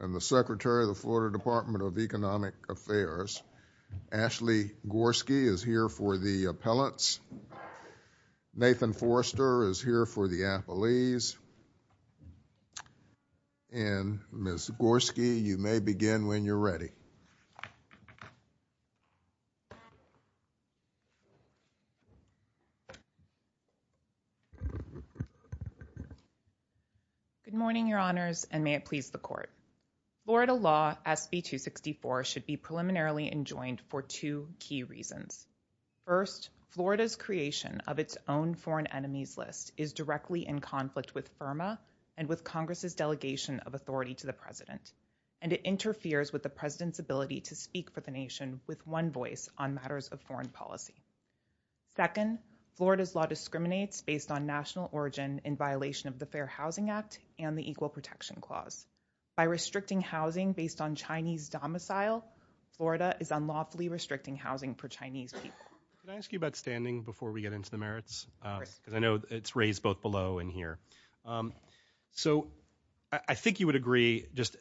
and the Secretary of the Florida Department of Economic Affairs, Ashley Gorski, is here for the appellates, Nathan Forster is here for the appellees, and Ms. Gorski, you may begin when you're ready. Good morning, your honors, and may it please the court. Florida law SB 264 should be preliminarily enjoined for two key reasons. First, Florida's creation of its own foreign enemies list is directly in conflict with FIRMA and with Congress's ability to speak for the nation with one voice on matters of foreign policy. Second, Florida's law discriminates based on national origin in violation of the Fair Housing Act and the Equal Protection Clause. By restricting housing based on Chinese domicile, Florida is unlawfully restricting housing for Chinese people. Can I ask you about standing before we get into the merits? I know it's raised both below and here. So I think you would agree, just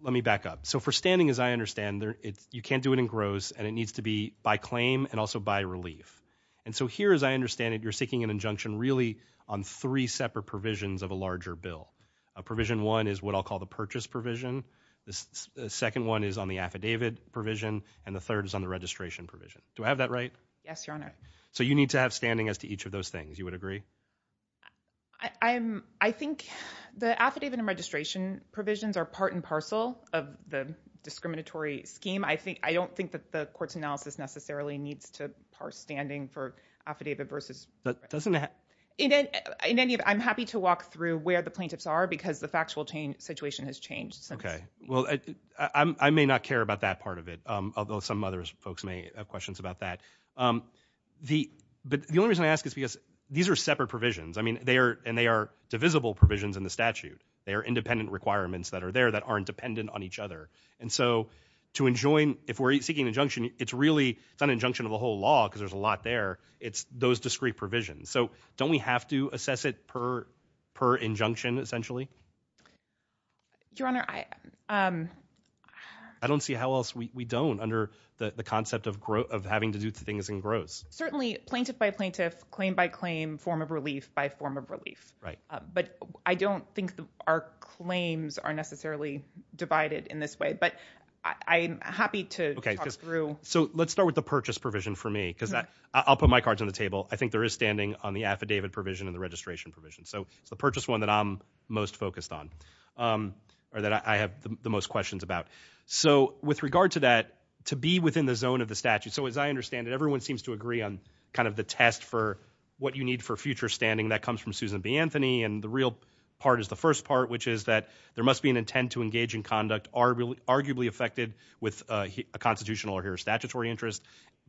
let me back up. So for standing, as I understand, you can't do it in gross and it needs to be by claim and also by relief. And so here, as I understand it, you're seeking an injunction really on three separate provisions of a larger bill. Provision one is what I'll call the purchase provision, the second one is on the affidavit provision, and the third is on the registration provision. Do I have that right? Yes, your honor. So you need to have standing as to each of those things, you would agree? I think the affidavit and registration provisions are part and parcel of the discriminatory scheme. I don't think that the court's analysis necessarily needs to parse standing for affidavit versus... I'm happy to walk through where the plaintiffs are because the factual situation has changed. Okay. Well, I may not care about that part of it, although some other folks may have questions about that. The only reason I ask is because these are separate provisions. I mean, and they are divisible provisions in the statute. They are independent requirements that are there that aren't dependent on each other. And so to enjoin, if we're seeking an injunction, it's really an injunction of a whole law because there's a lot there. It's those discrete provisions. So don't we have to assess it per injunction, essentially? Your honor, I... I don't see how else we don't under the concept of having to do things in gross. Certainly plaintiff by plaintiff, claim by claim, form of relief by form of relief. Right. But I don't think our claims are necessarily divided in this way, but I'm happy to talk through... Okay. So let's start with the purchase provision for me because I'll put my cards on the table. I think there is standing on the affidavit provision and the registration provision. So it's the purchase one that I'm most focused on or that I have the most questions about. So with regard to that, to be within the zone of the statute. So as I understand it, everyone seems to agree on kind of the test for what you need for future standing that comes from Susan B. Anthony. And the real part is the first part, which is that there must be an intent to engage in conduct arguably affected with a constitutional or statutory interest,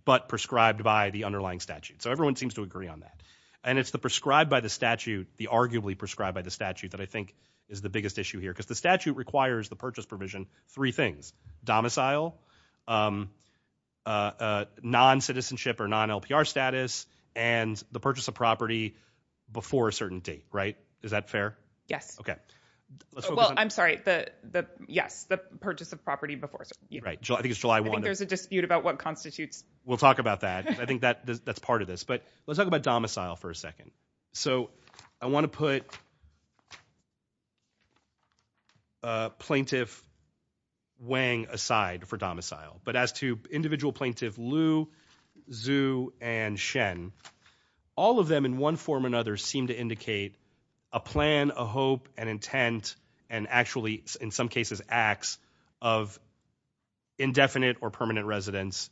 but prescribed by the underlying statute. So everyone seems to agree on that. And it's the prescribed by the statute, the arguably prescribed by the statute that I think is the biggest issue here. Because the statute requires the purchase provision, three things, domicile, non-citizenship or non-LPR status, and the purchase of property before a certain date. Right? Is that fair? Yes. Okay. Well, I'm sorry. Yes. The purchase of property before... Right. I think it's July 1. I think there's a dispute about what constitutes... We'll talk about that. I think that's part of this. But let's talk about domicile for a second. So I want to put plaintiff Wang aside for domicile. But as to individual plaintiff Liu, Zhu, and Shen, all of them in one form or another seem to indicate a plan, a hope, an intent, and actually in some cases acts of indefinite or permanent residence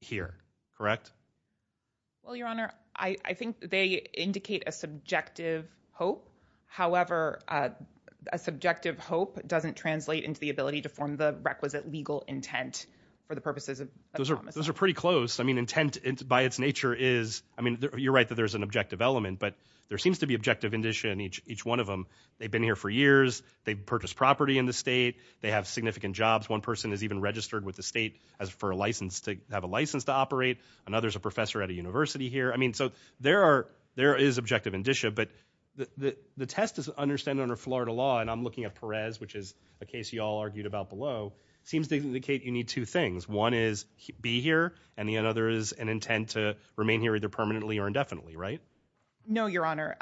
here. Correct? Well, Your Honor, I think they indicate a subjective hope. However, a subjective hope doesn't translate into the ability to form the requisite legal intent for the purposes of... Those are pretty close. I mean, intent by its nature is... I mean, you're right that there's an objective element, but there seems to be objective indicia in each one of them. They've been here for years. They've purchased property in the state. They have significant jobs. One person is even registered with the state for a license to have a license to operate. Another is a professor at a university here. I mean, so there is objective indicia, but the test is understand under Florida law, and I'm looking at Perez, which is a case you all be here, and the other is an intent to remain here either permanently or indefinitely, right? No, Your Honor.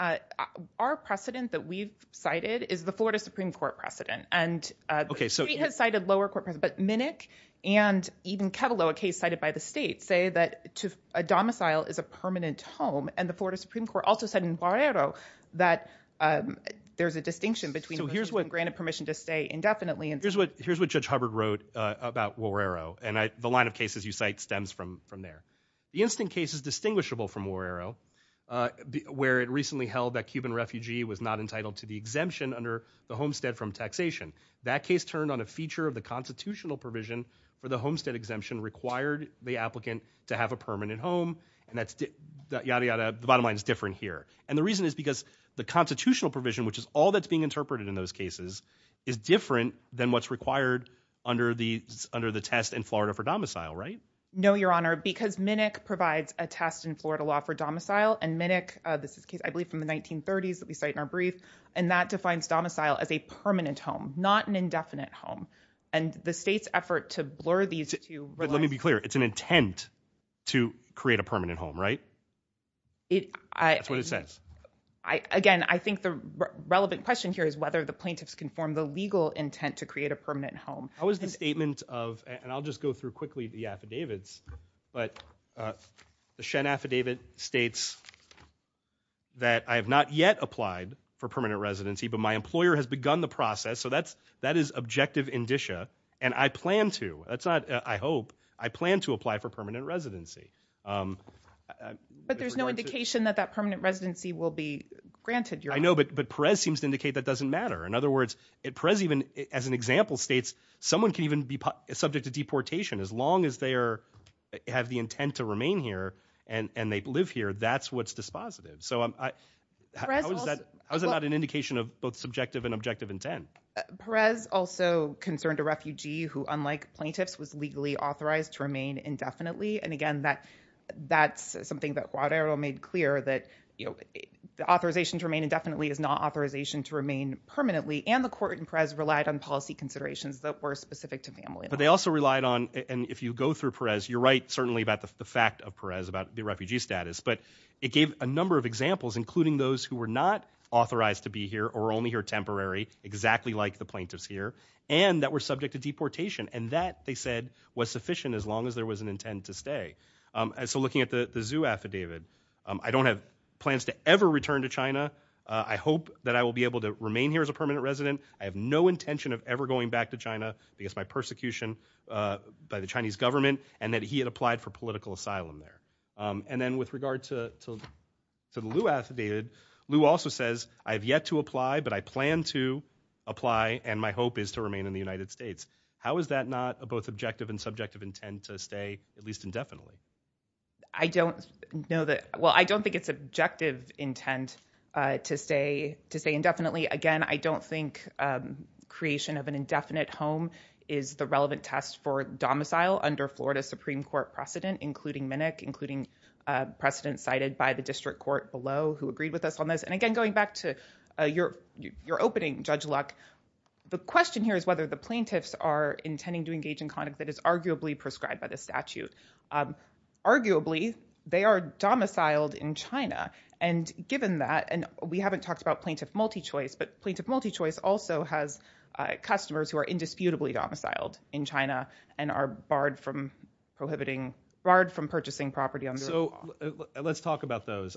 Our precedent that we've cited is the Florida Supreme Court precedent, and the state has cited lower court precedent, but Minnick and even Ketelow, a case cited by the state, say that a domicile is a permanent home, and the Florida Supreme Court also said in Guerrero that there's a distinction between... So here's what... Granted permission to stay indefinitely... Here's what Judge Hubbard wrote about Guerrero, and the line of cases you cite stems from there. The instant case is distinguishable from Guerrero, where it recently held that Cuban refugee was not entitled to the exemption under the homestead from taxation. That case turned on a feature of the constitutional provision for the homestead exemption required the applicant to have a permanent home, and that's... Yada, yada. The bottom line is different here, and the reason is because the constitutional provision, which is all that's being interpreted in those cases, is different than what's required under the test in Florida for domicile, right? No, Your Honor, because Minnick provides a test in Florida law for domicile, and Minnick, this is a case I believe from the 1930s that we cite in our brief, and that defines domicile as a permanent home, not an indefinite home, and the state's effort to blur these two... But let me be clear, it's an intent to create a permanent home, right? That's what it says. Again, I think the relevant question here is the plaintiffs can form the legal intent to create a permanent home. How is the statement of, and I'll just go through quickly the affidavits, but the Shen affidavit states that I have not yet applied for permanent residency, but my employer has begun the process, so that is objective indicia, and I plan to. That's not, I hope, I plan to apply for permanent residency. But there's no indication that that permanent residency will be granted, Your Honor. I know, but Perez seems to indicate that doesn't matter. In other words, Perez even, as an example, states someone can even be subject to deportation as long as they have the intent to remain here and they live here. That's what's dispositive. How is that not an indication of both subjective and objective intent? Perez also concerned a refugee who, unlike plaintiffs, was legally authorized to remain indefinitely, and again, that's something that Guadarro made clear, that the authorization to remain indefinitely is not authorization to remain permanently, and the court in Perez relied on policy considerations that were specific to family. But they also relied on, and if you go through Perez, you're right, certainly about the fact of Perez, about the refugee status, but it gave a number of examples, including those who were not authorized to be here or only here temporary, exactly like the plaintiffs here, and that were subject to deportation, and that, they said, was sufficient as long as there was an intent to stay. And so looking at the Xu affidavit, I don't have plans to ever return to China. I hope that I will be able to remain here as a permanent resident. I have no intention of ever going back to China because of my persecution by the Chinese government, and that he had applied for political asylum there. And then with regard to the Liu affidavit, Liu also says, I have yet to apply, but I plan to apply, and my hope is to remain in the United States. How is that not both objective and subjective intent to stay at least indefinitely? I don't know that, well, I don't think it's objective intent to stay indefinitely. Again, I don't think creation of an indefinite home is the relevant test for domicile under Florida Supreme Court precedent, including Minnick, including precedent cited by the district court below, who agreed with us on this. And again, going back to your opening, Judge Luck, the is arguably prescribed by the statute. Arguably, they are domiciled in China. And given that, and we haven't talked about plaintiff multi-choice, but plaintiff multi-choice also has customers who are indisputably domiciled in China and are barred from purchasing property. Let's talk about those.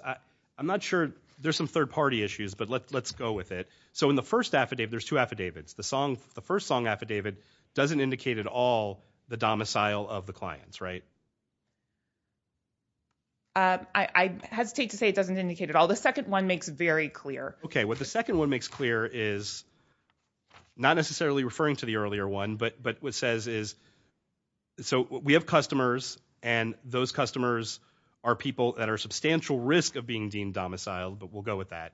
I'm not sure, there's some third party issues, but let's go with it. So in the first affidavit, there's two affidavits. The first song affidavit doesn't indicate at all the domicile of the clients, right? I hesitate to say it doesn't indicate at all. The second one makes very clear. Okay. What the second one makes clear is not necessarily referring to the earlier one, but what it says is, so we have customers and those customers are people that are substantial risk of being deemed domiciled, but we'll go with that,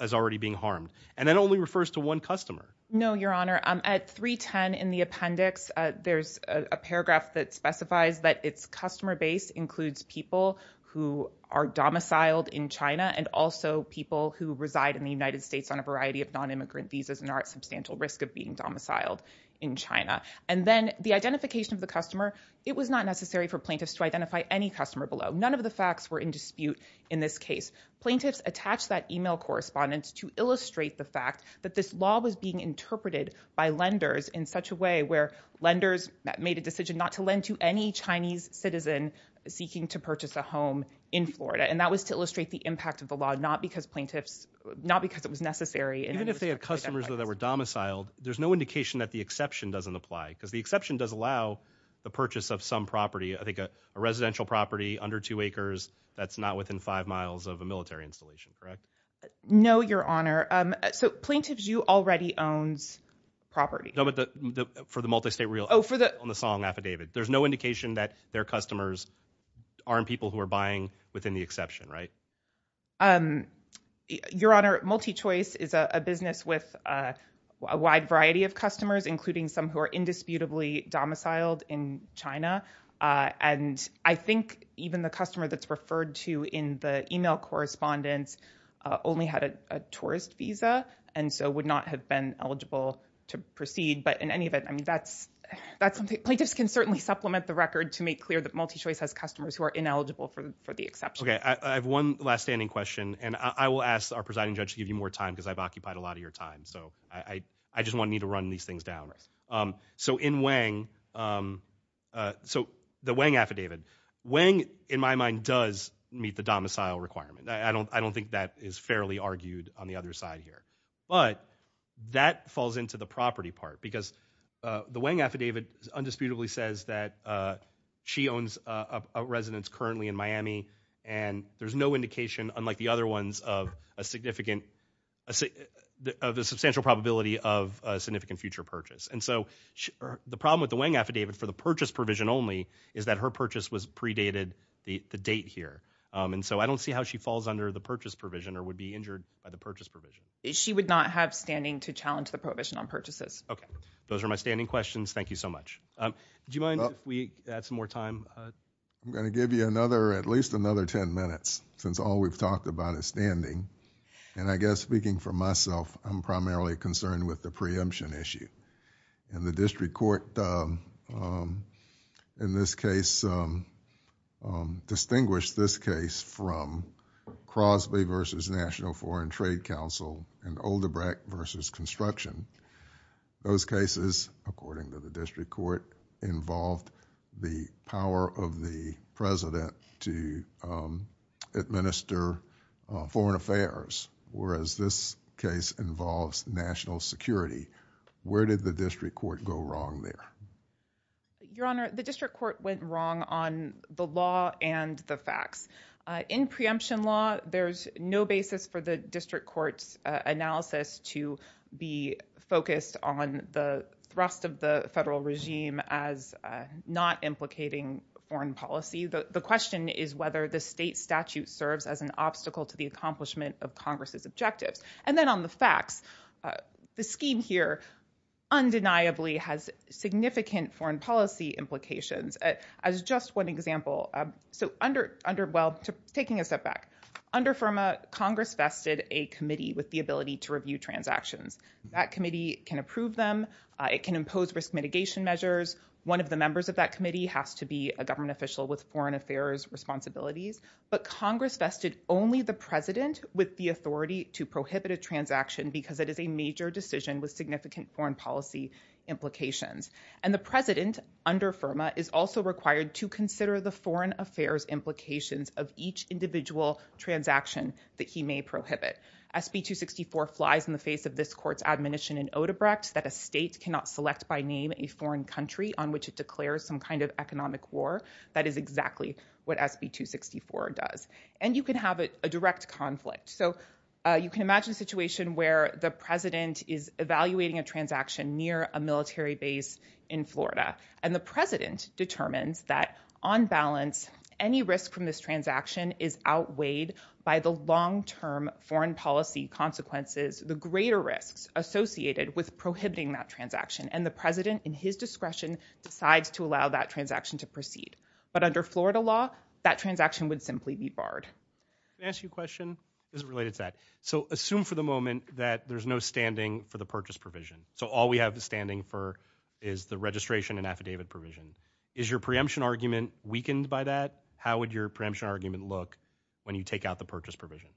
as already being harmed. And only refers to one customer. No, Your Honor. At 310 in the appendix, there's a paragraph that specifies that it's customer base includes people who are domiciled in China and also people who reside in the United States on a variety of non-immigrant visas and are at substantial risk of being domiciled in China. And then the identification of the customer, it was not necessary for plaintiffs to identify any customer below. None of the facts were in dispute in this fact that this law was being interpreted by lenders in such a way where lenders made a decision not to lend to any Chinese citizen seeking to purchase a home in Florida. And that was to illustrate the impact of the law, not because plaintiffs, not because it was necessary. Even if they had customers that were domiciled, there's no indication that the exception doesn't apply because the exception does allow the purchase of some property. I think a residential property under two acres, that's not within five miles of a military installation, correct? No, Your Honor. So Plaintiffs' U already owns property. No, but for the multi-state real estate on the Song affidavit, there's no indication that their customers aren't people who are buying within the exception, right? Your Honor, MultiChoice is a business with a wide variety of customers, including some who are indisputably domiciled in China. And I think even the customer that's referred to in the email correspondence only had a tourist visa and so would not have been eligible to proceed. But in any event, I mean, that's something plaintiffs can certainly supplement the record to make clear that MultiChoice has customers who are ineligible for the exception. Okay. I have one last standing question and I will ask our presiding judge to give you more time because I've occupied a lot of your time. So I just want me to run these things down. So in Wang, so the Wang affidavit, Wang in my mind does meet the domicile requirement. I don't think that is fairly argued on the other side here. But that falls into the property part because the Wang affidavit is undisputably says that she owns a residence currently in Miami and there's no indication unlike the other ones of a significant, of a substantial probability of a future purchase. And so the problem with the Wang affidavit for the purchase provision only is that her purchase was predated the date here. And so I don't see how she falls under the purchase provision or would be injured by the purchase provision. She would not have standing to challenge the prohibition on purchases. Okay. Those are my standing questions. Thank you so much. Do you mind if we add some more time? I'm going to give you another, at least another 10 minutes since all we've talked about is standing. And I guess speaking for myself, I'm primarily concerned with the preemption issue. And the district court in this case distinguished this case from Crosby versus National Foreign Trade Council and Olderbrack versus construction. Those cases, according to the district court, involved the power of the president to administer foreign affairs, whereas this case involves national security. Where did the district court go wrong there? Your Honor, the district court went wrong on the law and the facts. In preemption law, there's no basis for the district court's analysis to be focused on the thrust of the not implicating foreign policy. The question is whether the state statute serves as an obstacle to the accomplishment of Congress's objectives. And then on the facts, the scheme here undeniably has significant foreign policy implications. As just one example, taking a step back, under FIRMA, Congress vested a committee with the ability to review transactions. That committee can approve them. It can impose risk mitigation measures. One of the members of that committee has to be a government official with foreign affairs responsibilities. But Congress vested only the president with the authority to prohibit a transaction because it is a major decision with significant foreign policy implications. And the president under FIRMA is also required to consider the foreign affairs implications of each individual transaction that prohibit. SB 264 flies in the face of this court's admonition in Odebrecht that a state cannot select by name a foreign country on which it declares some kind of economic war. That is exactly what SB 264 does. And you can have a direct conflict. So you can imagine a situation where the president is evaluating a transaction near a military base in Florida. And the president policy consequences, the greater risks associated with prohibiting that transaction. And the president in his discretion decides to allow that transaction to proceed. But under Florida law, that transaction would simply be barred. Can I ask you a question? This is related to that. So assume for the moment that there's no standing for the purchase provision. So all we have standing for is the registration and affidavit provision. Is your preemption argument weakened by that? How would your preemption argument look when you take out the purchase provision?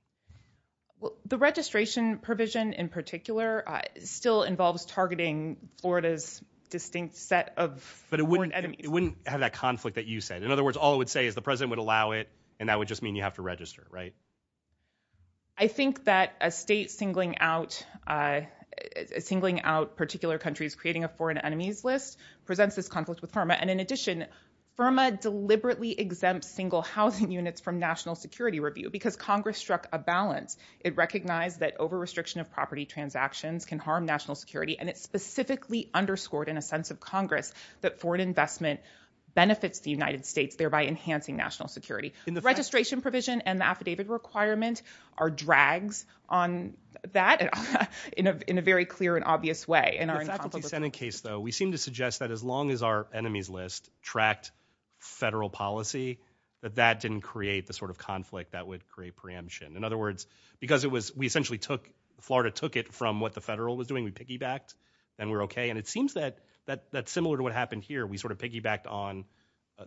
Well, the registration provision in particular still involves targeting Florida's distinct set of foreign enemies. But it wouldn't have that conflict that you said. In other words, all it would say is the president would allow it. And that would just mean you have to register, right? I think that a state singling out particular countries, creating a foreign enemies list, presents this conflict with FIRMA. And in addition, FIRMA deliberately exempts single housing units from national security review because Congress struck a balance. It recognized that over restriction of property transactions can harm national security. And it specifically underscored in a sense of Congress that foreign investment benefits the United States, thereby enhancing national security. Registration provision and the affidavit requirement are drags on that in a very clear and obvious way. In our incompetence case, though, we seem to suggest that as long as our sort of conflict, that would create preemption. In other words, because we essentially took, Florida took it from what the federal was doing, we piggybacked, then we're okay. And it seems that similar to what happened here, we sort of piggybacked on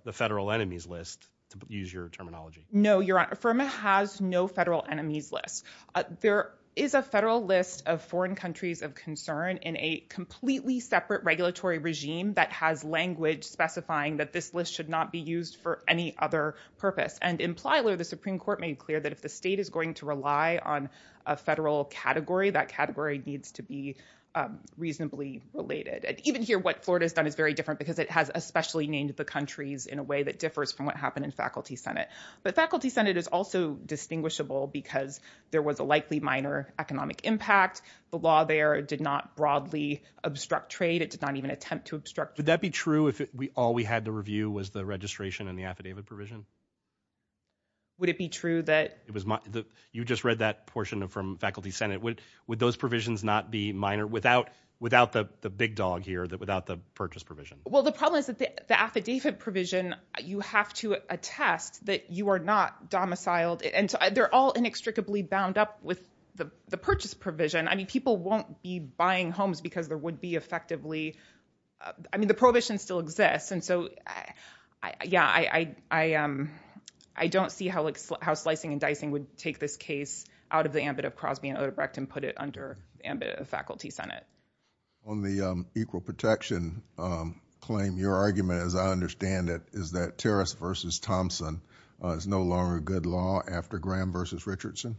the federal enemies list, to use your terminology. No, your honor, FIRMA has no federal enemies list. There is a federal list of foreign countries of concern in a completely separate regulatory regime that has language specifying that this list should not be used for any other purpose. And in Plyler, the Supreme Court made clear that if the state is going to rely on a federal category, that category needs to be reasonably related. And even here, what Florida has done is very different because it has especially named the countries in a way that differs from what happened in Faculty Senate. But Faculty Senate is also distinguishable because there was a likely minor economic impact. The law there did not broadly obstruct trade. It did not even attempt to obstruct. Would that be true if all we had to review was the registration and the affidavit provision? Would it be true that... You just read that portion from Faculty Senate. Would those provisions not be minor without the big dog here, without the purchase provision? Well, the problem is that the affidavit provision, you have to attest that you are not domiciled. And they're all inextricably bound up with the purchase provision. I mean, people won't be buying homes because there would be effectively... I mean, the prohibition still exists. And so, yeah, I don't see how slicing and dicing would take this case out of the ambit of Crosby and Odebrecht and put it under the ambit of Faculty Senate. On the equal protection claim, your argument, as I understand it, is that Terrace v. Thompson is no longer a good law after Graham v. Richardson?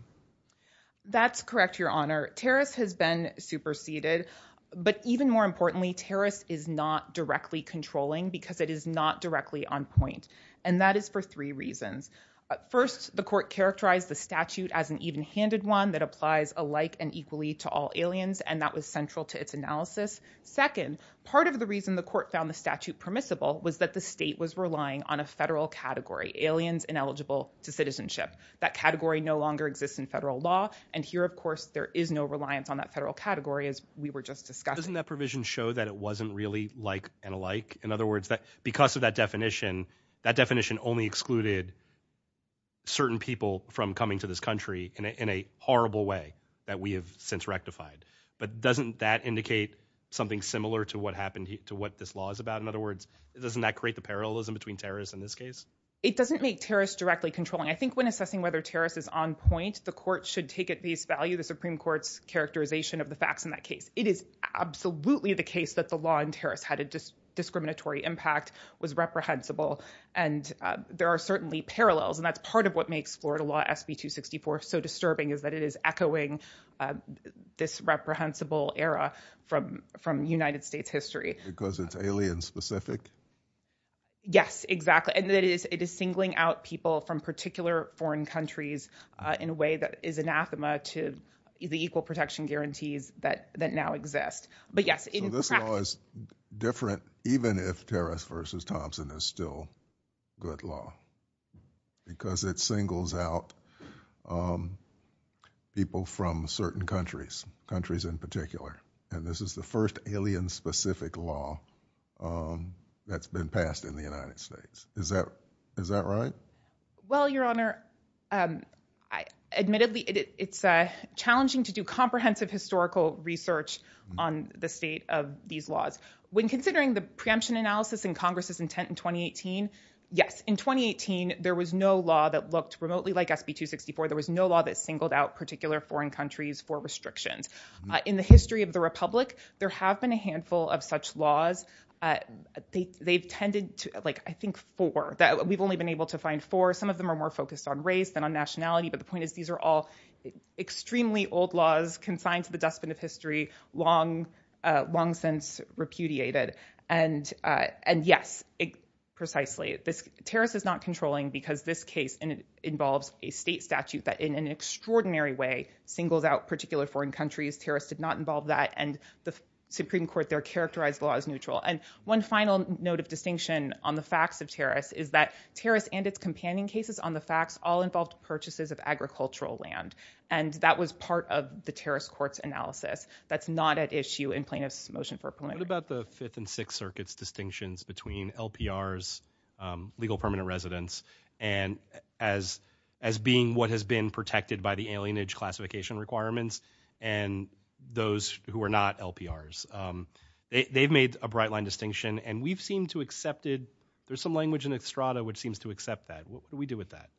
That's correct, Your Honor. Terrace has been superseded. But even more importantly, Terrace is not directly controlling because it is not directly on point. And that is for three reasons. First, the court characterized the statute as an even-handed one that applies alike and equally to all aliens. And that was central to its analysis. Second, part of the reason the court found the statute permissible was that the state was relying on a federal category, aliens ineligible to citizenship. That category no longer exists in federal law. And here, of course, there is no reliance on that federal category, as we were just discussing. Doesn't that provision show that it wasn't really like and alike? In other words, because of that definition, that definition only excluded certain people from coming to this country in a horrible way that we have since rectified. But doesn't that indicate something similar to what happened to what this law is about? In other words, doesn't that create the parallelism between Terrace and this case? It doesn't make Terrace directly controlling. I think when assessing whether Terrace is on point, the court should take at least value the Supreme Court's characterization of the facts in that case. It is absolutely the case that the law in Terrace had a discriminatory impact, was reprehensible, and there are certainly parallels. And that's part of what makes Florida law SB 264 so disturbing is that it is echoing this reprehensible era from United States history. Because it's alien-specific? Yes, exactly. And it is singling out people from particular foreign countries in a way that is to the equal protection guarantees that that now exist. But yes, this law is different, even if Terrace versus Thompson is still good law. Because it singles out people from certain countries, countries in particular. And this is the first alien-specific law that's been passed in the United States. Is that is that right? Well, Your Honor, admittedly, it's challenging to do comprehensive historical research on the state of these laws. When considering the preemption analysis in Congress's intent in 2018, yes, in 2018, there was no law that looked remotely like SB 264. There was no law that singled out particular foreign countries for restrictions. In the history of the Republic, there have been handful of such laws. We've only been able to find four. Some of them are more focused on race than on nationality. But the point is, these are all extremely old laws consigned to the dustbin of history, long since repudiated. And yes, precisely. Terrace is not controlling because this case involves a state statute that in an extraordinary way singles out particular foreign countries. Terrace did not involve that. And the Supreme Court there characterized the law as neutral. And one final note of distinction on the facts of Terrace is that Terrace and its companion cases on the facts all involved purchases of agricultural land. And that was part of the Terrace court's analysis. That's not at issue in plaintiff's motion for appeal. What about the Fifth and Sixth Circuit's distinctions between LPR's legal permanent residence as being what has been those who are not LPR's? They've made a bright line distinction. And we've seemed to accept it. There's some language in Estrada which seems to accept that. What do we do with that?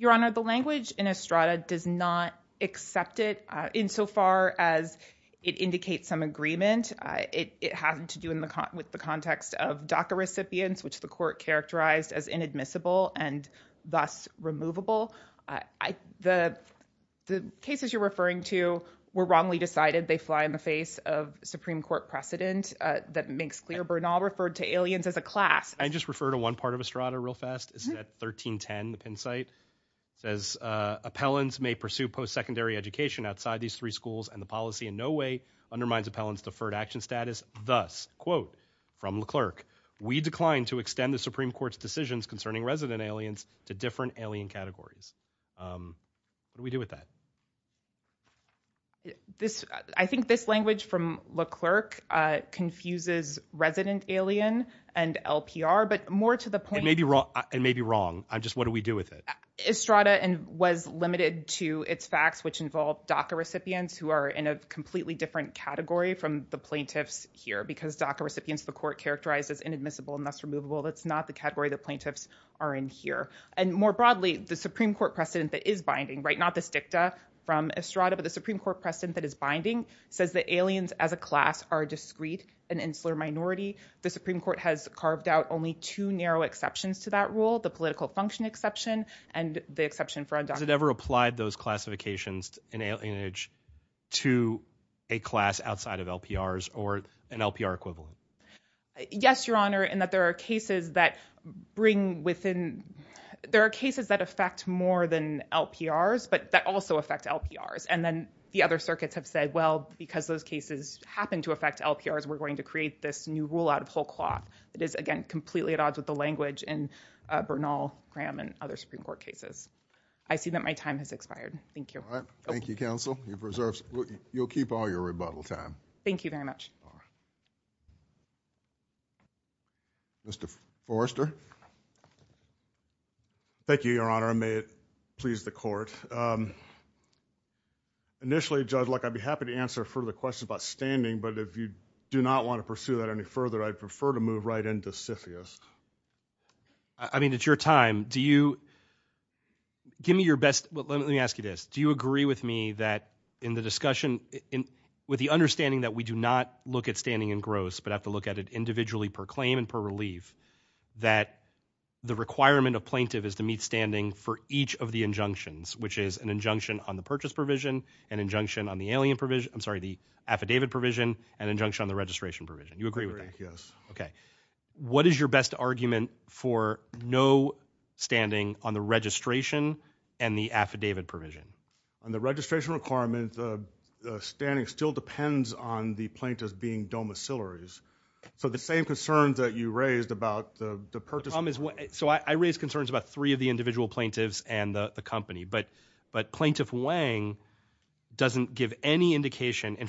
Your Honor, the language in Estrada does not accept it insofar as it indicates some agreement. It has to do with the context of DACA recipients, which the court characterized as inadmissible and thus removable. The cases you're referring to were wrongly decided. They fly in the face of Supreme Court precedent that makes clear. Bernal referred to aliens as a class. I just refer to one part of Estrada real fast. It's at 1310, the pin site. It says appellants may pursue post-secondary education outside these three schools and the policy in no way undermines appellant's deferred action status. Thus, quote, from the clerk, we decline to extend the Supreme Court's decisions concerning resident aliens to different alien categories. What do we do with that? I think this language from Leclerc confuses resident alien and LPR, but more to the point- It may be wrong. Just what do we do with it? Estrada was limited to its facts, which involve DACA recipients who are in a completely different category from the plaintiffs here because DACA recipients, the court characterized as inadmissible and thus removable. That's not the category the plaintiffs are in here. More broadly, the Supreme Court precedent that is binding, not this dicta from Estrada, but the Supreme Court precedent that is binding says that aliens as a class are discrete and insular minority. The Supreme Court has carved out only two narrow exceptions to that rule, the political function exception and the exception for undocumented- Has it ever applied those classifications in alienage to a class outside of LPRs or an LPR equivalent? Yes, Your Honor, in that there are cases that bring within- There are cases that affect more than LPRs, but that also affect LPRs. Then the other circuits have said, well, because those cases happen to affect LPRs, we're going to create this new rule out of whole cloth that is, again, completely at odds with the language in Bernal, Graham, and other Supreme Court cases. I see that time has expired. Thank you. Thank you, counsel. You'll keep all your rebuttal time. Thank you very much. Mr. Forrester. Thank you, Your Honor. May it please the court. Initially, Judge Luck, I'd be happy to answer further questions about standing, but if you do not want to pursue that any further, I'd prefer to move right into CFIUS. I mean, it's your time. Do you- Give me your best- Let me ask you this. Do you agree with me that in the discussion, with the understanding that we do not look at standing in gross, but have to look at it individually per claim and per relief, that the requirement of plaintiff is to meet standing for each of the injunctions, which is an injunction on the purchase provision, an injunction on the alien provision- I'm sorry, the affidavit provision, an injunction on the registration provision. You agree with that? Yes. Okay. What is your best argument for no standing on the registration and the affidavit provision? On the registration requirement, the standing still depends on the plaintiff's being domiciliaries. So the same concern that you raised about the purchase- The problem is- So I raised concerns about three of the individual plaintiffs and the company, but Plaintiff Wang doesn't give any indication. In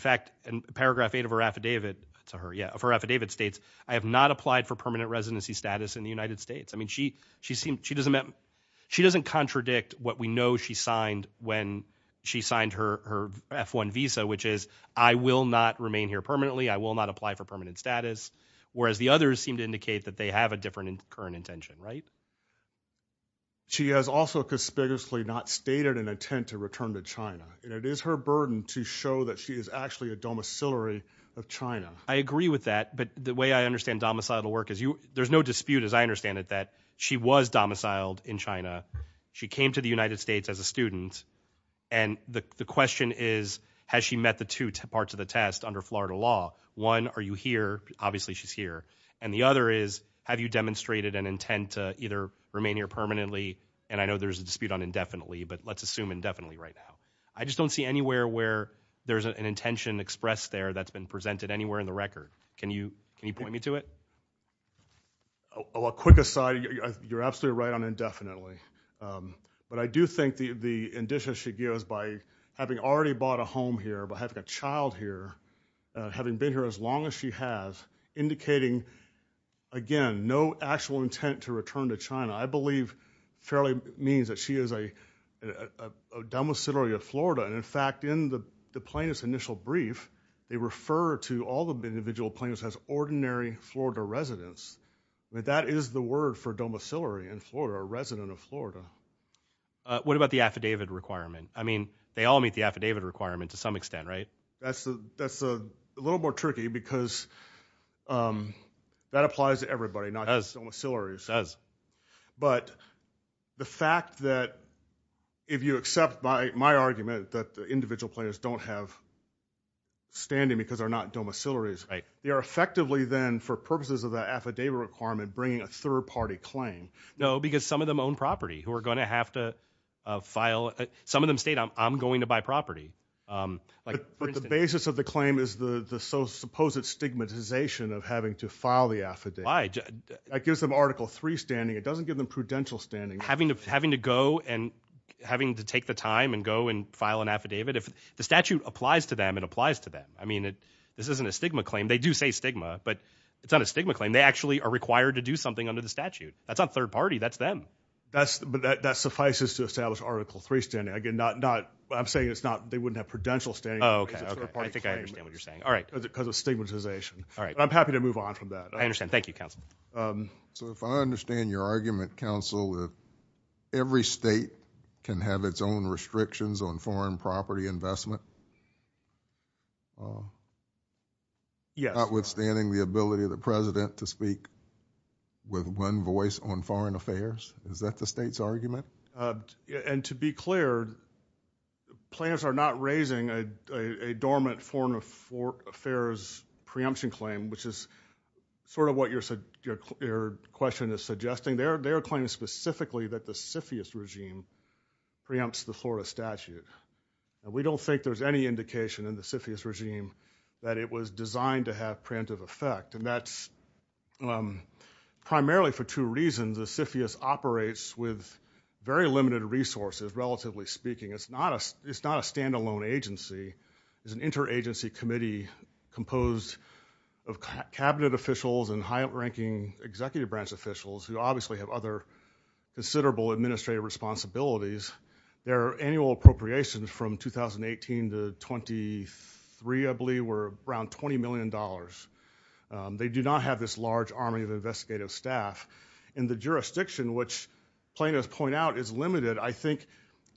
paragraph eight of her affidavit to her, yeah, of her affidavit states, I have not applied for permanent residency status in the United States. I mean, she doesn't contradict what we know she signed when she signed her F-1 visa, which is I will not remain here permanently. I will not apply for permanent status. Whereas the others seem to indicate that they have a different current intention, right? She has also conspicuously not stated an intent to return to China. It is her domiciliary of China. I agree with that, but the way I understand domicilial work is there's no dispute, as I understand it, that she was domiciled in China. She came to the United States as a student. And the question is, has she met the two parts of the test under Florida law? One, are you here? Obviously she's here. And the other is, have you demonstrated an intent to either remain here permanently? And I know there's a dispute on indefinitely, but let's assume indefinitely right now. I just don't see anywhere where there's an intention expressed there that's been presented anywhere in the record. Can you, can you point me to it? Well, quick aside, you're absolutely right on indefinitely. But I do think the the indicia she gives by having already bought a home here, by having a child here, having been here as long as she has, indicating, again, no actual intent to return to China, I believe fairly means that she is a domiciliary of Florida. And in fact, in the plaintiff's initial brief, they refer to all the individual plaintiffs as ordinary Florida residents. That is the word for domiciliary in Florida, a resident of Florida. What about the affidavit requirement? I mean, they all meet the affidavit requirement to some domiciliary. But the fact that if you accept my argument that the individual plaintiffs don't have standing because they're not domiciliaries, they are effectively then, for purposes of that affidavit requirement, bringing a third-party claim. No, because some of them own property who are going to have to file. Some of them state, I'm going to buy property. But the basis of the claim is the supposed stigmatization of having to file the affidavit. Why? That gives them Article III standing. It doesn't give them prudential standing. Having to go and having to take the time and go and file an affidavit, if the statute applies to them, it applies to them. I mean, this isn't a stigma claim. They do say stigma, but it's not a stigma claim. They actually are required to do something under the statute. That's not third-party. That's them. But that suffices to establish Article III standing. Again, I'm saying they wouldn't have prudential standing. I think I understand what you're saying. Because of stigmatization. I'm happy to move on from that. I understand. Thank you, counsel. So if I understand your argument, counsel, that every state can have its own restrictions on foreign property investment? Yes. Notwithstanding the ability of the president to speak with one voice on foreign affairs? Is that the state's argument? And to be clear, plaintiffs are not raising a dormant foreign affairs preemption claim, which is sort of what your question is suggesting. They are claiming specifically that the CFIUS regime preempts the Florida statute. We don't think there's any indication in the CFIUS regime that it was designed to have preemptive effect. And that's very limited resources, relatively speaking. It's not a standalone agency. It's an interagency committee composed of cabinet officials and high-ranking executive branch officials who obviously have other considerable administrative responsibilities. Their annual appropriations from 2018 to 2023, I believe, were around $20 million. They do not have this large army of I think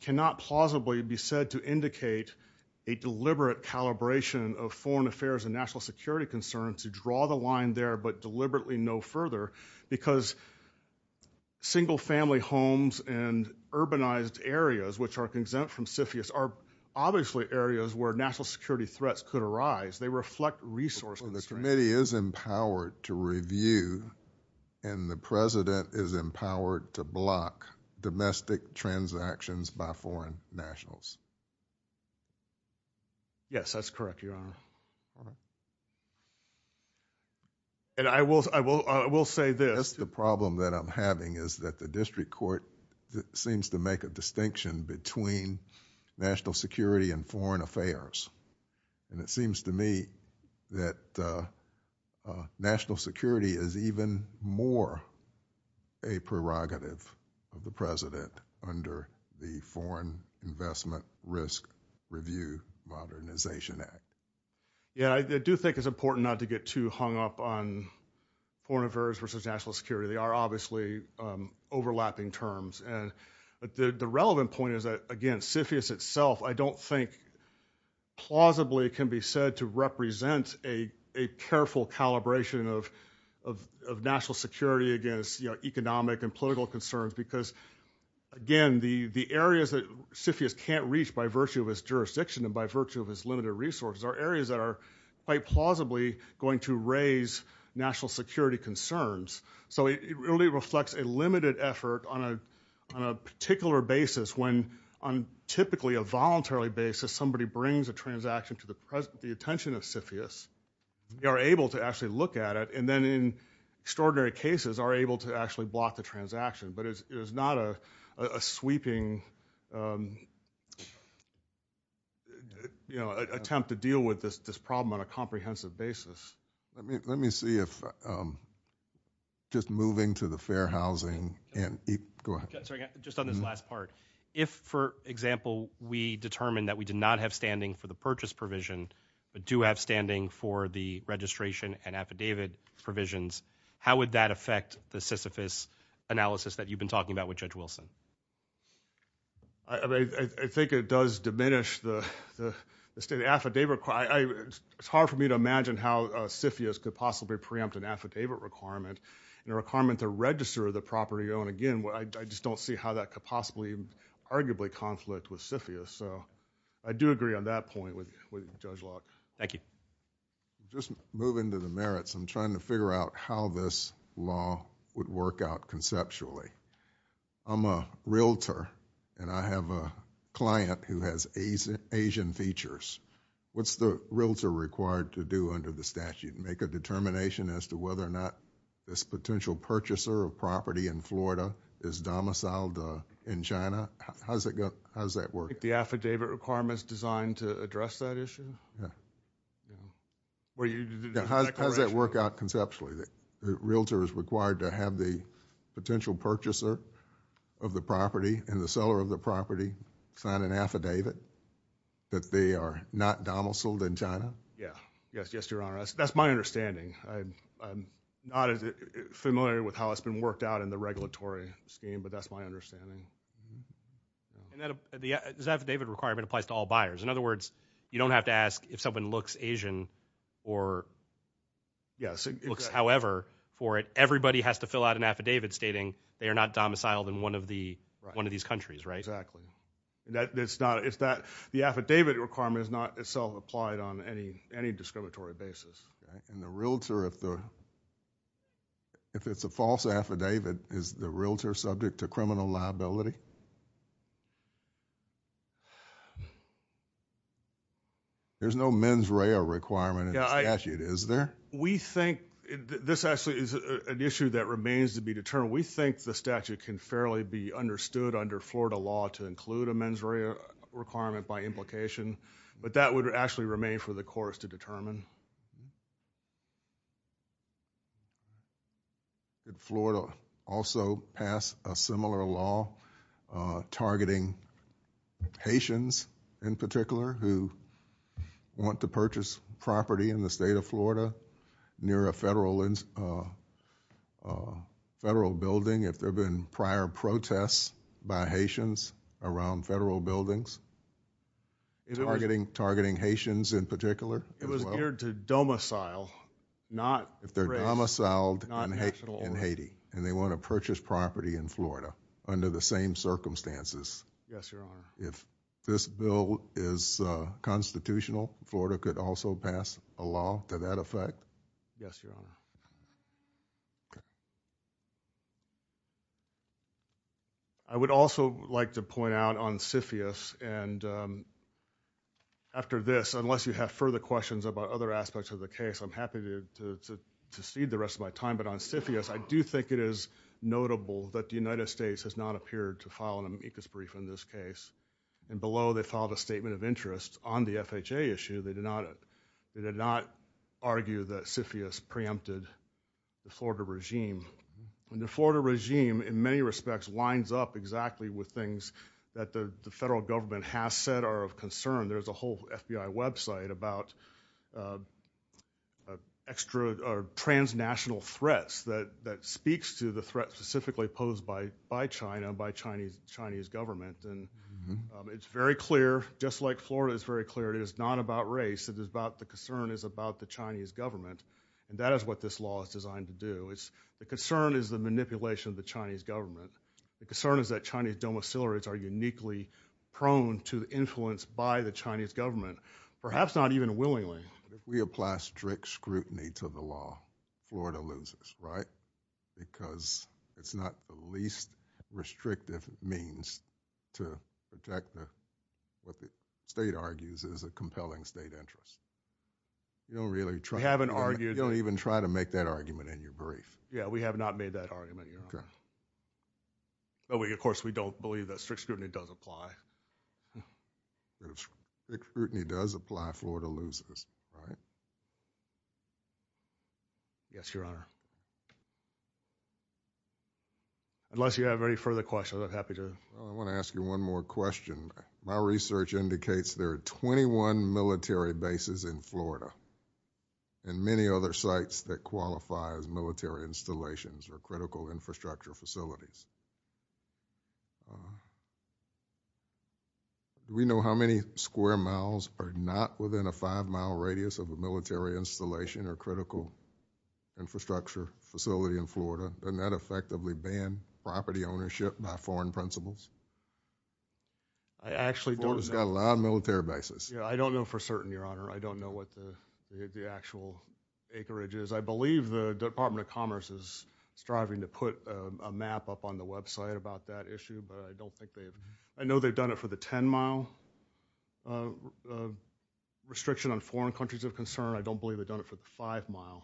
cannot plausibly be said to indicate a deliberate calibration of foreign affairs and national security concerns to draw the line there, but deliberately no further, because single-family homes and urbanized areas, which are exempt from CFIUS, are obviously areas where national security threats could arise. They reflect resource constraints. The committee is empowered to review and the president is empowered to block domestic transactions by foreign nationals. Yes, that's correct, Your Honor. And I will say this. That's the problem that I'm having is that the district court seems to make a distinction between national security and foreign affairs. And it seems to me that national security is even more a prerogative of the president under the Foreign Investment Risk Review Modernization Act. Yeah, I do think it's important not to get too hung up on foreign affairs versus national security. They are obviously overlapping terms. And the relevant point is that, again, CFIUS itself, I don't think plausibly can be said to represent a careful calibration of national security against economic and political concerns because, again, the areas that CFIUS can't reach by virtue of its jurisdiction and by virtue of its limited resources are areas that are quite plausibly going to raise national security concerns. So it really reflects a limited effort on a particular basis when, on typically a voluntarily basis, somebody brings a transaction to the attention of CFIUS. They are able to actually look at it and then in extraordinary cases are able to actually block the transaction. But it is not a sweeping attempt to deal with this problem on a comprehensive basis. Let me see if, just moving to the fair housing. Just on this last part, if, for example, we determined that we did not have standing for the purchase provision but do have standing for the registration and affidavit provisions, how would that affect the Sisyphus analysis that you've been talking about with Judge Wilson? I think it does diminish the affidavit. It's hard for me to imagine how CFIUS could possibly preempt an affidavit requirement and a requirement to register the property. Again, I just don't see how that could possibly arguably conflict with CFIUS. So I do agree on that point with Judge Locke. Thank you. Just moving to the merits, I'm trying to figure out how this law would work out conceptually. I'm a realtor and I have a client who has Asian features. What's the realtor required to do under the statute? Make a determination as to whether or not this potential purchaser of property in Florida is domiciled in China? How does that work? The affidavit requirement is designed to address that issue? Yeah. How does that work out conceptually? The realtor is required to have the potential purchaser of the property and the seller of the property sign an affidavit that they are not domiciled in China? Yeah. Yes, Your Honor. That's my understanding. I'm not as familiar with how it's been worked out in the regulatory scheme, but that's my understanding. The affidavit requirement applies to all buyers. In other words, you don't have to ask if someone looks Asian or looks however for it. Everybody has to fill out an affidavit stating they are not domiciled in one of these countries, right? Exactly. The affidavit requirement is not itself applied on any discriminatory basis. And the realtor, if it's a false affidavit, is the realtor subject to criminal liability? There's no mens rea requirement in the statute, is there? We think this actually is an issue that remains to be determined. We think the statute can fairly be understood under Florida law to include a mens rea requirement by implication, but that would actually remain for the courts to determine. Did Florida also pass a similar law targeting Haitians, in particular, who want to purchase property in the state of Florida near a federal building, if there have been prior protests by Haitians around federal buildings, targeting Haitians in particular? It was geared to domicile, not race. If they're domiciled in Haiti and they want to purchase property in Florida under the same circumstances. Yes, your honor. If this bill is constitutional, Florida could also pass a law to that effect? Yes, your honor. Okay. I would also like to point out on CFIUS, and after this, unless you have further questions about other aspects of the case, I'm happy to cede the rest of my time, but on CFIUS, I do think it is notable that the United States has not appeared to file an amicus brief in this case, and below they filed a statement of interest on the FHA issue. They did not argue that CFIUS preempted the Florida regime, and the Florida regime, in many respects, lines up exactly with things that the federal government has said are of concern. There's a whole FBI website about transnational threats that speaks to the threat specifically posed by China, by the Chinese government, and it's very clear, just like Florida, it's very clear it is not about race, the concern is about the Chinese government, and that is what this law is designed to do. The concern is the manipulation of the Chinese government. The concern is that Chinese domiciliaries are uniquely prone to the influence by the Chinese government, perhaps not even willingly. If we apply strict scrutiny to the law, Florida loses, right? Because it's not the least restrictive means to protect what the state argues is a compelling state interest. You don't even try to make that argument in your brief. Yeah, we have not made that argument, Your Honor. But of course, we don't believe that strict scrutiny does apply. Strict scrutiny does apply, Florida loses, right? Yes, Your Honor. Unless you have any further questions, I'm happy to... Well, I want to ask you one more question. My research indicates there are 21 military bases in Florida and many other sites that qualify as military installations or critical infrastructure facilities. We know how many square miles are not within a five-mile radius of a military installation or critical infrastructure facility in Florida. Doesn't that effectively ban property ownership by foreign principles? I actually don't know. Florida's got a lot of military bases. Yeah, I don't know for certain, Your Honor. I don't know what the actual acreage is. I believe the Department of Commerce is striving to put a map up on the website about that issue, but I don't think they have. I know they've done it for the 10-mile restriction on foreign countries of concern. I don't believe they've done it for the five-mile.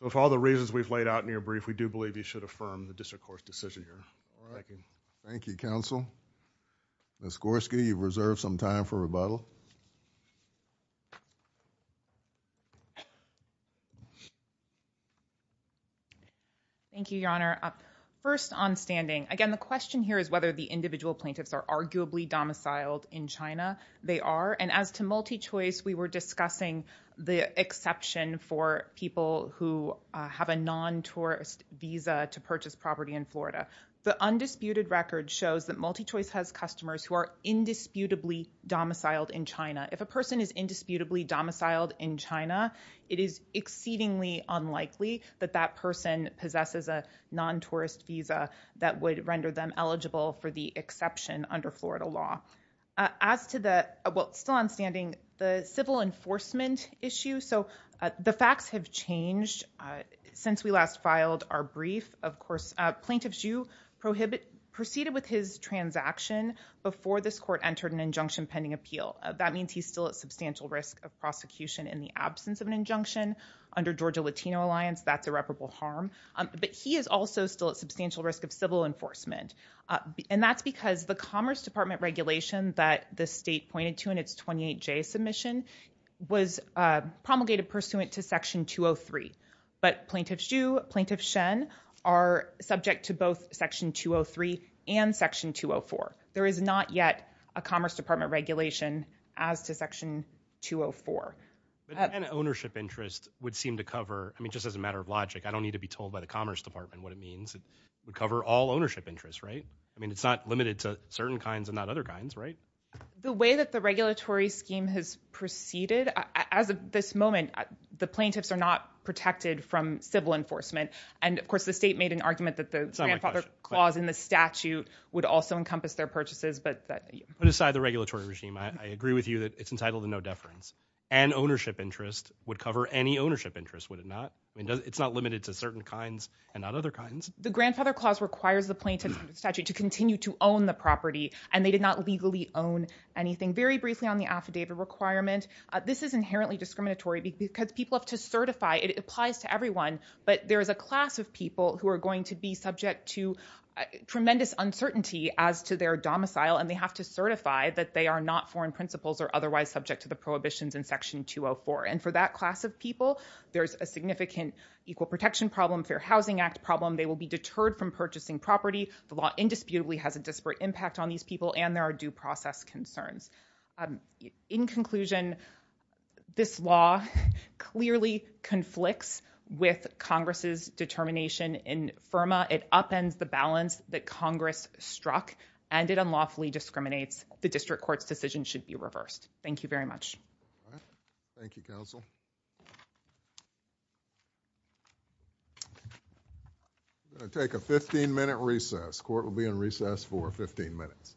With all the reasons we've laid out in your brief, we do believe you should affirm the district court's decision here. Thank you, counsel. Ms. Gorski, you've reserved some time for rebuttal. Thank you, Your Honor. First on standing, again, the question here is whether the individual plaintiffs are arguably domiciled in China. They are, and as to MultiChoice, we were discussing the exception for people who have a non-tourist visa to purchase property in Florida. The undisputed record shows that MultiChoice has customers who are indisputably domiciled in China. If a person is indisputably domiciled in China, it is exceedingly unlikely that that person possesses a non-tourist visa that would render them eligible for the exception under Florida law. As to the, well, still on standing, the civil enforcement issue. So the facts have changed since we last filed our brief. Of course, plaintiff Xu proceeded with his transaction before this court entered an injunction pending appeal. That means he's still at substantial risk of prosecution in the absence of an injunction under Georgia Latino Alliance. That's irreparable harm. But he is also still at substantial risk of civil enforcement. And that's because the Commerce Department regulation that the state pointed to in its 28J submission was promulgated pursuant to Section 203. But Plaintiff Xu, Plaintiff Shen are subject to both Section 203 and Section 204. There is not yet a Commerce Department regulation as to Section 204. And ownership interest would seem to cover, I mean, just as a matter of logic, I don't need to be told by the Commerce Department what it means. Would cover all ownership interests, right? I mean, it's not limited to certain kinds and not other kinds, right? The way that the regulatory scheme has proceeded as of this moment, the plaintiffs are not protected from civil enforcement. And of course, the state made an argument that the grandfather clause in the statute would also encompass their purchases. But put aside the regulatory regime, I agree with you that it's entitled to no deference and ownership interest would cover any ownership interest, would it not? I mean, it's not limited to certain kinds and not other kinds. The grandfather clause requires the plaintiffs in the statute to continue to own the property and they did not legally own anything. Very briefly on the affidavit requirement, this is inherently discriminatory because people have to certify, it applies to everyone, but there is a class of people who are going to be subject to tremendous uncertainty as to their domicile and they have to certify that they are not foreign principals or otherwise subject to the prohibitions in Section 204. And for that class of people, there's a significant equal protection problem, Fair Housing Act problem, they will be deterred from purchasing property, the law indisputably has a disparate impact on these people, and there are due process concerns. In conclusion, this law clearly conflicts with Congress's determination in FIRMA. It upends the balance that Congress struck and it unlawfully discriminates. The district court's decision should be reversed. Thank you very much. Thank you, counsel. We're going to take a 15-minute recess. Court will be in recess for 15 minutes. Thank you.